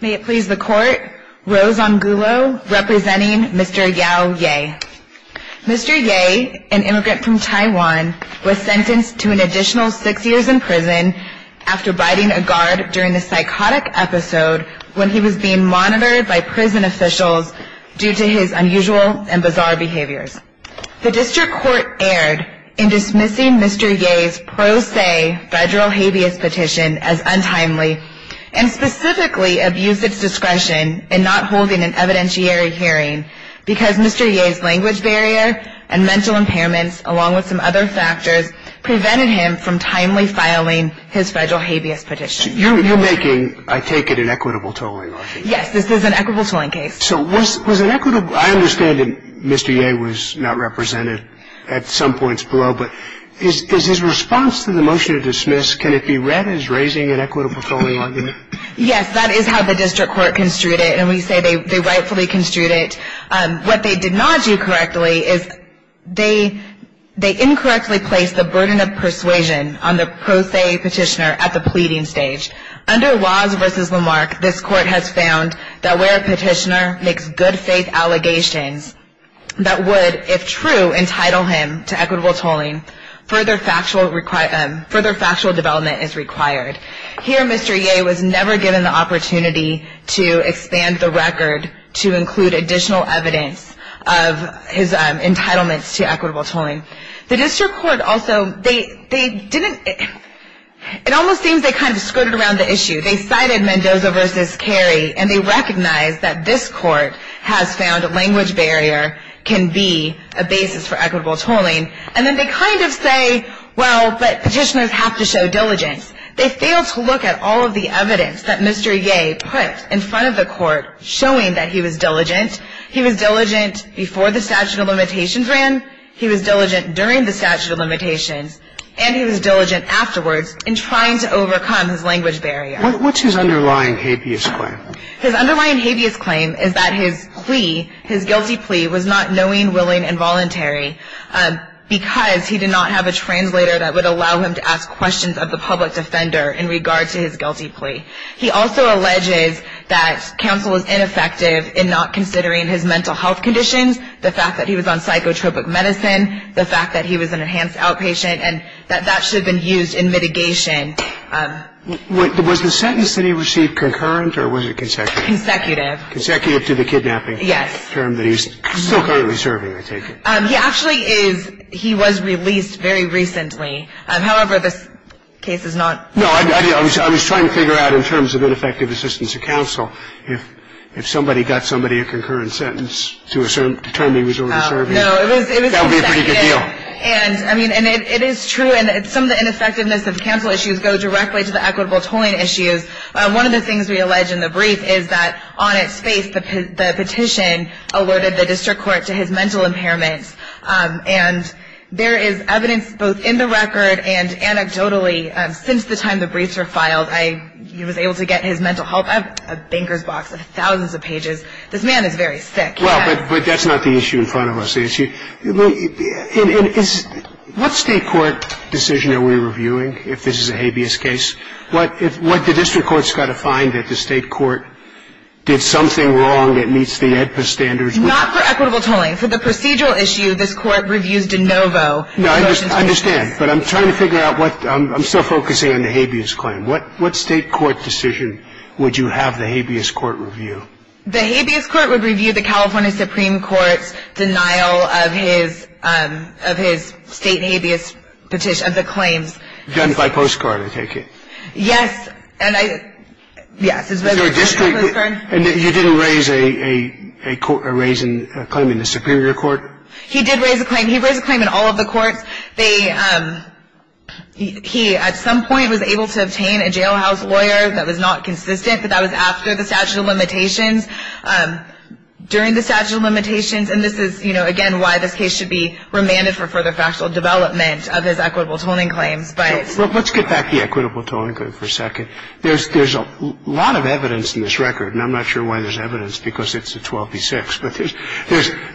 May it please the Court, Rose Angulo representing Mr. Yow Yeh. Mr. Yeh, an immigrant from Taiwan, was sentenced to an additional six years in prison after biting a guard during a psychotic episode when he was being monitored by prison officials due to his unusual and bizarre behaviors. The District Court erred in dismissing Mr. Yeh's pro se federal habeas petition as untimely and specifically abused its discretion in not holding an evidentiary hearing because Mr. Yeh's language barrier and mental impairments, along with some other factors, prevented him from timely filing his federal habeas petition. You're making, I take it, an equitable tolling, aren't you? Yes, this is an equitable tolling case. I understand that Mr. Yeh was not represented at some points below, but is his response to the motion to dismiss, can it be read as raising an equitable tolling argument? Yes, that is how the District Court construed it, and we say they rightfully construed it. What they did not do correctly is they incorrectly placed the burden of persuasion on the pro se petitioner at the pleading stage. Under Waz v. Lamarck, this Court has found that where a petitioner makes good faith allegations that would, if true, entitle him to equitable tolling, further factual development is required. Here, Mr. Yeh was never given the opportunity to expand the record to include additional evidence of his entitlements to equitable tolling. The District Court also, they didn't, it almost seems they kind of skirted around the issue. They cited Mendoza v. Carey, and they recognized that this Court has found language barrier can be a basis for equitable tolling. And then they kind of say, well, but petitioners have to show diligence. They failed to look at all of the evidence that Mr. Yeh put in front of the Court showing that he was diligent. He was diligent before the statute of limitations ran. He was diligent during the statute of limitations. And he was diligent afterwards in trying to overcome his language barrier. What's his underlying habeas claim? His underlying habeas claim is that his plea, his guilty plea, was not knowing, willing, and voluntary because he did not have a translator that would allow him to ask questions of the public defender in regard to his guilty plea. He also alleges that counsel was ineffective in not considering his mental health conditions, the fact that he was on psychotropic medicine, the fact that he was an enhanced outpatient, and that that should have been used in mitigation. Was the sentence that he received concurrent or was it consecutive? Consecutive. Consecutive to the kidnapping. Yes. Term that he's still currently serving, I take it. He actually is. He was released very recently. However, this case is not. No, I was trying to figure out in terms of ineffective assistance of counsel if somebody got somebody a concurrent sentence to determine he was already serving. No, it was consecutive. That would be a pretty good deal. And, I mean, and it is true. And some of the ineffectiveness of counsel issues go directly to the equitable tolling issues. One of the things we allege in the brief is that on its face, the petition alerted the district court to his mental impairment. And there is evidence both in the record and anecdotally since the time the briefs were filed, he was able to get his mental health. I have a banker's box of thousands of pages. This man is very sick. Well, but that's not the issue in front of us. What state court decision are we reviewing if this is a habeas case? What the district court's got to find that the state court did something wrong that meets the AEDPA standards. Not for equitable tolling. For the procedural issue, this court reviews de novo. No, I understand. But I'm trying to figure out what. I'm still focusing on the habeas claim. What state court decision would you have the habeas court review? The habeas court would review the California Supreme Court's denial of his state habeas petition, of the claims. Done by postcard, I take it. Yes. And I, yes. And you didn't raise a claim in the superior court? He did raise a claim. He raised a claim in all of the courts. They, he at some point was able to obtain a jailhouse lawyer that was not consistent, but that was after the statute of limitations, during the statute of limitations. And this is, you know, again, why this case should be remanded for further factual development of his equitable tolling claims. But. Let's get back to the equitable tolling claim for a second. There's a lot of evidence in this record, and I'm not sure why there's evidence, because it's a 12b-6. But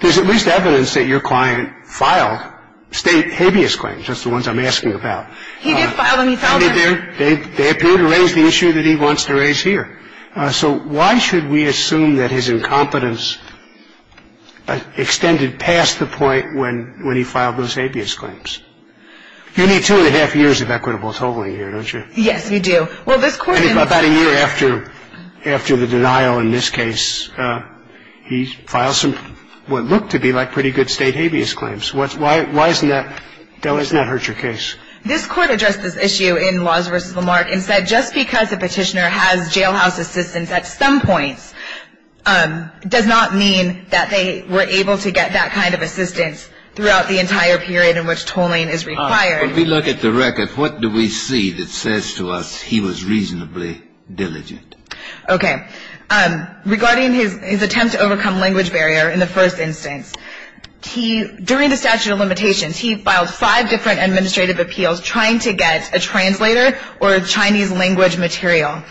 there's at least evidence that your client filed state habeas claims. That's the ones I'm asking about. He did file them. He filed them. They appear to raise the issue that he wants to raise here. So why should we assume that his incompetence extended past the point when he filed those habeas claims? You need two and a half years of equitable tolling here, don't you? Yes, we do. Well, this court. I think about a year after the denial in this case, he filed some what looked to be like pretty good state habeas claims. Why doesn't that hurt your case? This court addressed this issue in Laws v. Lamarck and said just because a petitioner has jailhouse assistance at some points does not mean that they were able to get that kind of assistance throughout the entire period in which tolling is required. When we look at the record, what do we see that says to us he was reasonably diligent? Okay. Regarding his attempt to overcome language barrier in the first instance, he, during the statute of limitations, he filed five different administrative appeals trying to get a translator or a Chinese language material.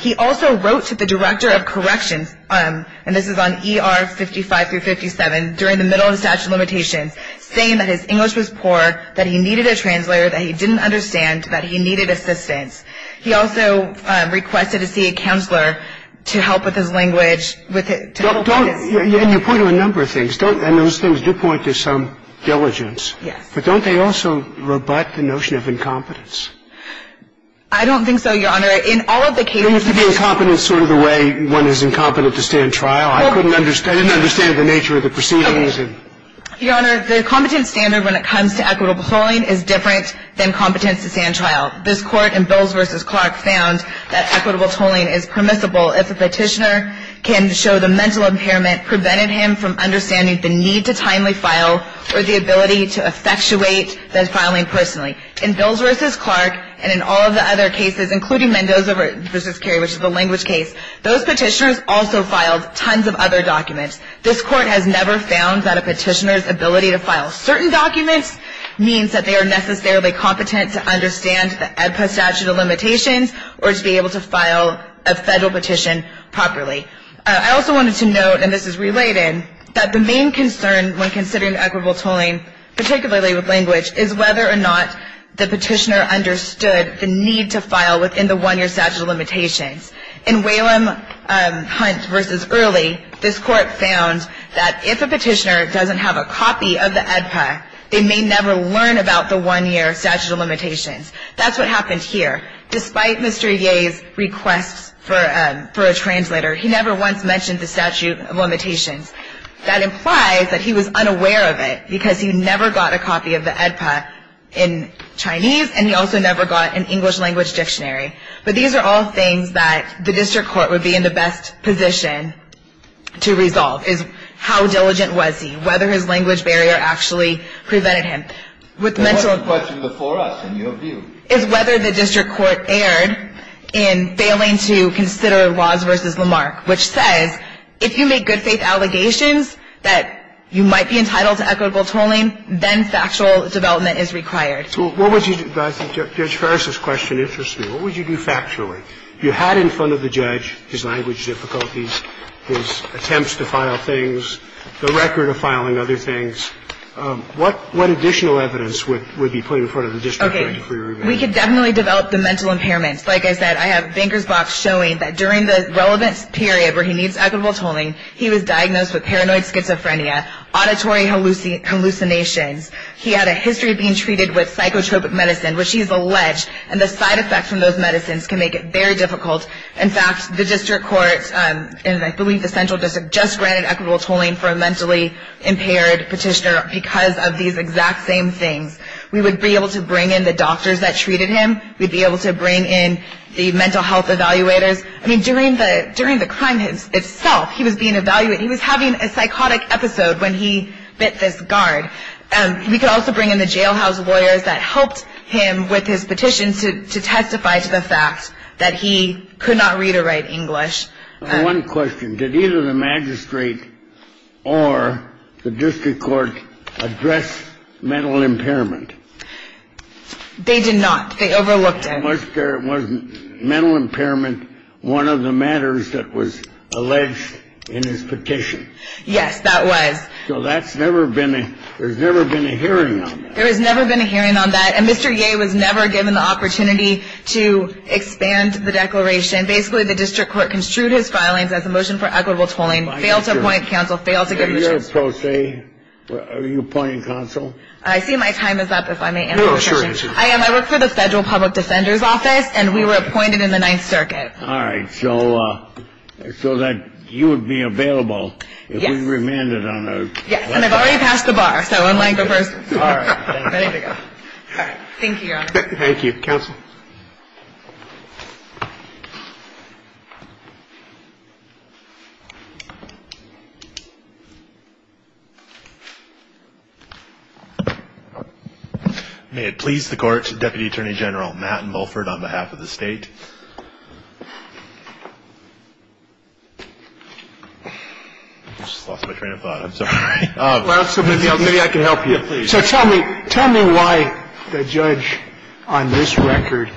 He also wrote to the director of corrections, and this is on ER 55 through 57, during the middle of the statute of limitations saying that his English was poor, that he needed a translator, that he didn't understand, that he needed assistance. He also requested to see a counselor to help with his language. And you point to a number of things. And those things do point to some diligence. Yes. But don't they also rebut the notion of incompetence? I don't think so, Your Honor. In all of the cases we've seen this. There used to be incompetence sort of the way one is incompetent to stand trial. I didn't understand the nature of the proceedings. Okay. Your Honor, the competence standard when it comes to equitable tolling is different than competence to stand trial. This Court in Bills v. Clark found that equitable tolling is permissible if a petitioner can show the mental impairment prevented him from understanding the need to timely file or the ability to effectuate the filing personally. In Bills v. Clark and in all of the other cases, including Mendoza v. Carey, which is the language case, those petitioners also filed tons of other documents. This Court has never found that a petitioner's ability to file certain documents means that they are necessarily competent to understand the AEDPA statute of limitations or to be able to file a federal petition properly. I also wanted to note, and this is related, that the main concern when considering equitable tolling, particularly with language, is whether or not the petitioner understood the need to file within the one-year statute of limitations. In Whalum Hunt v. Early, this Court found that if a petitioner doesn't have a copy of the AEDPA, they may never learn about the one-year statute of limitations. That's what happened here. Despite Mr. Yeh's requests for a translator, he never once mentioned the statute of limitations. That implies that he was unaware of it because he never got a copy of the AEDPA in Chinese, and he also never got an English language dictionary. But these are all things that the district court would be in the best position to resolve, is how diligent was he, whether his language barrier actually prevented him. With mental illness. Sotomayor, the question before us, in your view. Is whether the district court erred in failing to consider Waz v. Lamarck, which says if you make good-faith allegations that you might be entitled to equitable tolling, then factual development is required. So what would you do? Judge Ferris's question interests me. What would you do factually? You had in front of the judge his language difficulties, his attempts to file things, the record of filing other things. What additional evidence would be put in front of the district court? Okay. We could definitely develop the mental impairments. Like I said, I have banker's box showing that during the relevant period where he needs equitable tolling, he was diagnosed with paranoid schizophrenia, auditory hallucinations. He had a history of being treated with psychotropic medicine, which he's alleged, and the side effects from those medicines can make it very difficult. In fact, the district court, and I believe the central district, just granted equitable tolling for a mentally impaired petitioner because of these exact same things. We would be able to bring in the doctors that treated him. We'd be able to bring in the mental health evaluators. I mean, during the crime itself, he was being evaluated. He was having a psychotic episode when he bit this guard. We could also bring in the jailhouse lawyers that helped him with his petition to testify to the fact that he could not read or write English. One question. Did either the magistrate or the district court address mental impairment? They did not. They overlooked it. Was mental impairment one of the matters that was alleged in his petition? Yes, that was. So that's never been. There's never been a hearing. There has never been a hearing on that. And Mr. Ye was never given the opportunity to expand the declaration. Basically, the district court construed his filings as a motion for equitable tolling. Fail to appoint counsel. Fail to give a pro se. Are you appointing counsel? I see my time is up. If I may. I am. I work for the federal public defender's office, and we were appointed in the Ninth Circuit. All right. So that you would be available if we remanded on a. Yes. And I've already passed the bar. So I'm laying for first. All right. Ready to go. All right. Thank you, Your Honor. Thank you. Counsel. May it please the court. Deputy Attorney General Matt Mulford on behalf of the state. I just lost my train of thought. I'm sorry. So tell me. Tell me why the judge on this record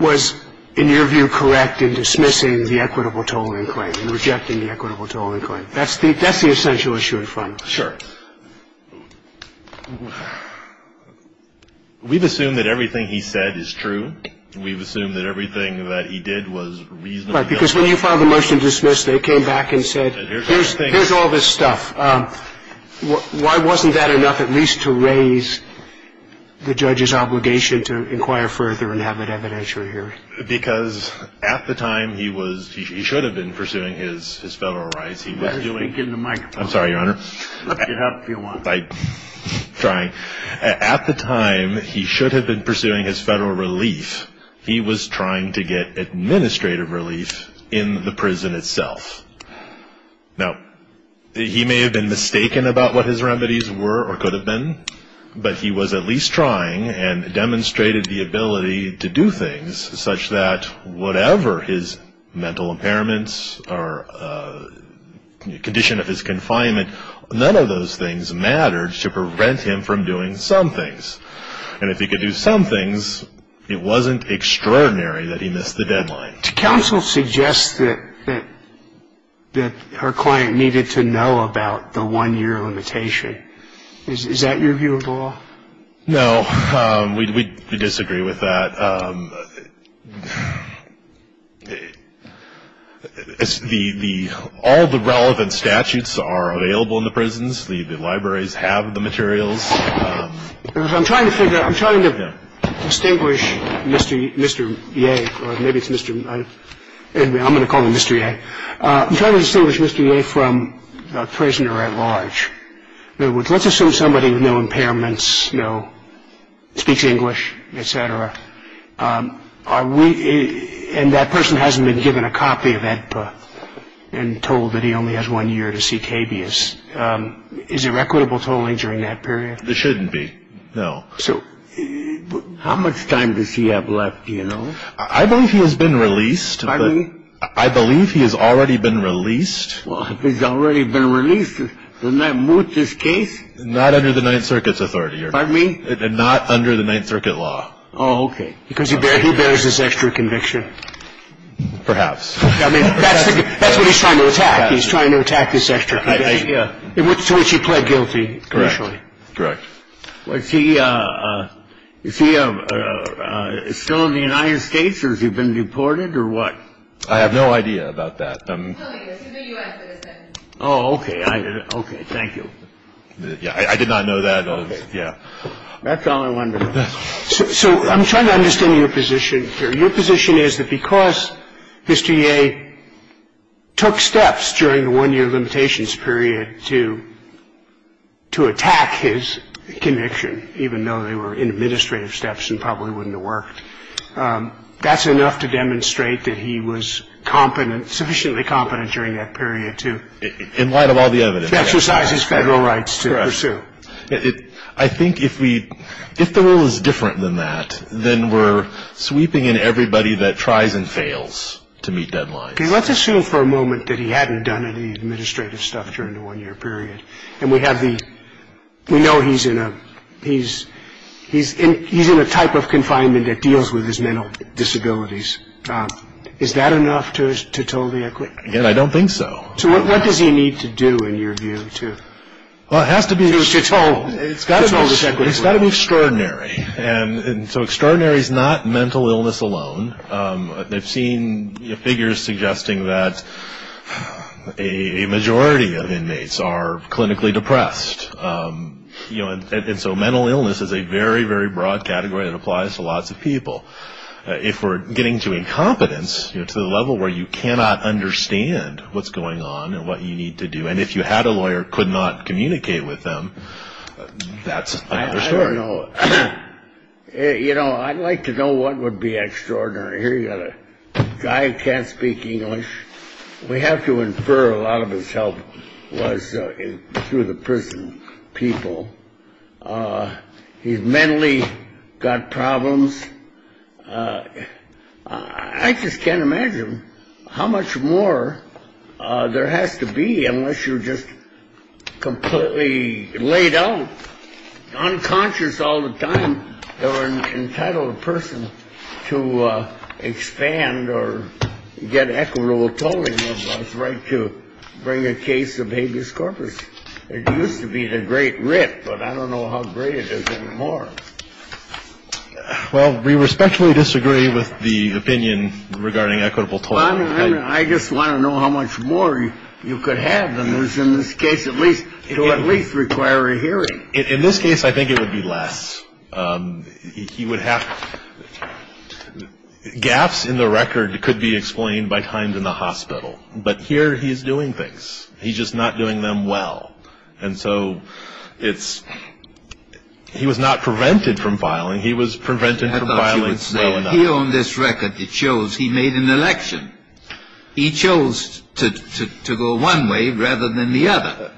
was, in your view, correct in dismissing the equitable tolling claim. Rejecting the equitable tolling claim. That's the essential issue in front. Sure. We've assumed that everything he said is true. We've assumed that everything that he did was reasonable. Right. Because when you filed the motion to dismiss, they came back and said, here's all this stuff. Why wasn't that enough at least to raise the judge's obligation to inquire further and have an evidentiary hearing? Because at the time he was, he should have been pursuing his federal rights. He was doing. Let him speak into the microphone. I'm sorry, Your Honor. You can help if you want. I'm trying. At the time, he should have been pursuing his federal relief. He was trying to get administrative relief in the prison itself. Now, he may have been mistaken about what his remedies were or could have been, but he was at least trying and demonstrated the ability to do things such that whatever his mental impairments or condition of his confinement, none of those things mattered to prevent him from doing some things. And if he could do some things, it wasn't extraordinary that he missed the deadline. Counsel suggests that her client needed to know about the one-year limitation. Is that your view at all? No. We disagree with that. All the relevant statutes are available in the prisons. The libraries have the materials. I'm trying to figure out. I'm trying to distinguish Mr. Mr. Yeah, maybe it's Mr. And I'm going to call him Mr. I'm trying to distinguish Mr. Yeah, from a prisoner at large. Let's assume somebody with no impairments, no speech, English, et cetera. And that person hasn't been given a copy of that book and told that he only has one year to seek habeas. Is there equitable totally during that period? There shouldn't be. No. So how much time does he have left? You know, I believe he has been released. I mean, I believe he has already been released. Well, he's already been released. Does that move this case? Not under the Ninth Circuit's authority. I mean, not under the Ninth Circuit law. Oh, OK. Because he barely bears this extra conviction. Perhaps. I mean, that's what he's trying to attack. He's trying to attack this extra. Yeah. So he pled guilty. Correct. Correct. Was he still in the United States or has he been deported or what? I have no idea about that. Oh, OK. OK. Thank you. Yeah. I did not know that. Yeah. That's all I wanted to know. So I'm trying to understand your position here. Your position is that because Mr. Yeh took steps during the one-year limitations period to attack his conviction, even though they were administrative steps and probably wouldn't have worked, that's enough to demonstrate that he was competent, sufficiently competent during that period to exercise his federal rights to pursue. Correct. I think if the rule is different than that, then we're sweeping in everybody that tries and fails to meet deadlines. Let's assume for a moment that he hadn't done any administrative stuff during the one-year period, and we know he's in a type of confinement that deals with his mental disabilities. Is that enough to totally acquit him? I don't think so. So what does he need to do, in your view? Well, it has to be extraordinary. And so extraordinary is not mental illness alone. I've seen figures suggesting that a majority of inmates are clinically depressed. And so mental illness is a very, very broad category that applies to lots of people. If we're getting to incompetence, to the level where you cannot understand what's going on and what you need to do, and if you had a lawyer, could not communicate with them, that's another story. I don't know. You know, I'd like to know what would be extraordinary. Here you've got a guy who can't speak English. We have to infer a lot of his help was through the prison people. He's mentally got problems. I just can't imagine how much more there has to be unless you're just completely laid out, unconscious all the time, or an entitled person to expand or get equitable tolling of his right to bring a case of habeas corpus. It used to be the great writ, but I don't know how great it is anymore. Well, we respectfully disagree with the opinion regarding equitable time. I just want to know how much more you could have than this. In this case, at least it will at least require a hearing. In this case, I think it would be less. He would have gaps in the record. It could be explained by times in the hospital. But here he is doing things. He's just not doing them well. And so it's he was not prevented from filing. He was prevented from filing. He owned this record. It shows he made an election. He chose to go one way rather than the other.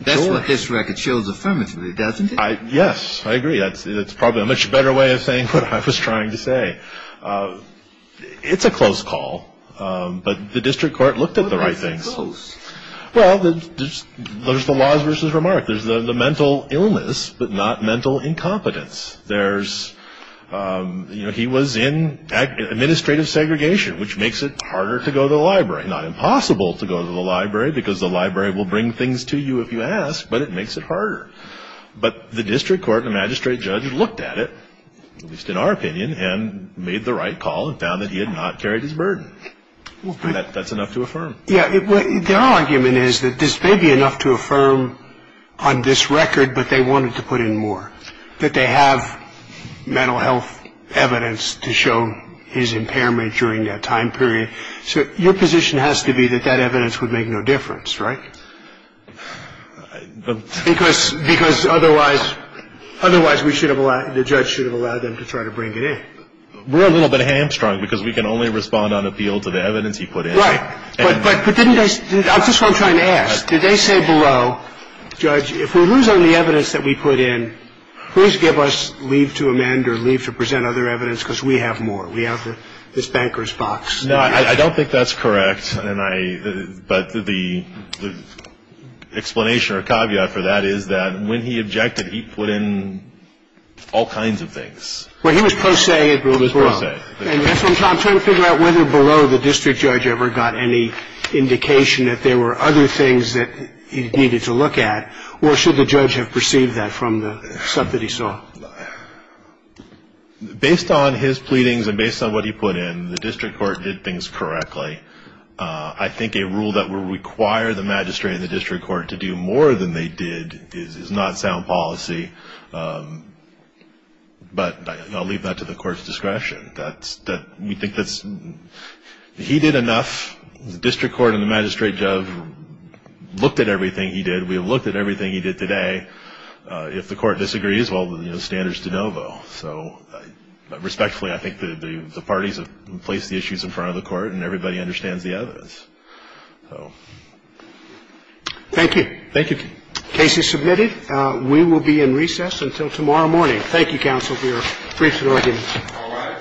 That's what this record shows affirmatively, doesn't it? Yes, I agree. It's probably a much better way of saying what I was trying to say. It's a close call. But the district court looked at the right things. Well, there's the laws versus remark. There's the mental illness but not mental incompetence. There's, you know, he was in administrative segregation, which makes it harder to go to the library. Not impossible to go to the library because the library will bring things to you if you ask, but it makes it harder. But the district court and magistrate judge looked at it, at least in our opinion, and made the right call and found that he had not carried his burden. That's enough to affirm. Yeah. Their argument is that this may be enough to affirm on this record, but they wanted to put in more, that they have mental health evidence to show his impairment during that time period. So your position has to be that that evidence would make no difference, right? Because otherwise we should have allowed, the judge should have allowed them to try to bring it in. We're a little bit hamstrung because we can only respond on appeal to the evidence he put in. Right. But didn't they, I'm just trying to ask, did they say below, judge, if we lose all the evidence that we put in, please give us leave to amend or leave to present other evidence because we have more. We have this banker's box. No, I don't think that's correct. And I, but the explanation or caveat for that is that when he objected, he put in all kinds of things. Well, he was pro se. He was pro se. I'm trying to figure out whether below the district judge ever got any indication that there were other things that he needed to look at, or should the judge have perceived that from the stuff that he saw? Based on his pleadings and based on what he put in, the district court did things correctly. I think a rule that would require the magistrate and the district court to do more than they did is not sound policy. But I'll leave that to the court's discretion. That's, we think that's, he did enough. The district court and the magistrate have looked at everything he did. We have looked at everything he did today. If the court disagrees, well, you know, standards de novo. So respectfully, I think the parties have placed the issues in front of the court, and everybody understands the evidence. Thank you. Thank you. Case is submitted. We will be in recess until tomorrow morning. Thank you, counsel. We are free to go again. All right.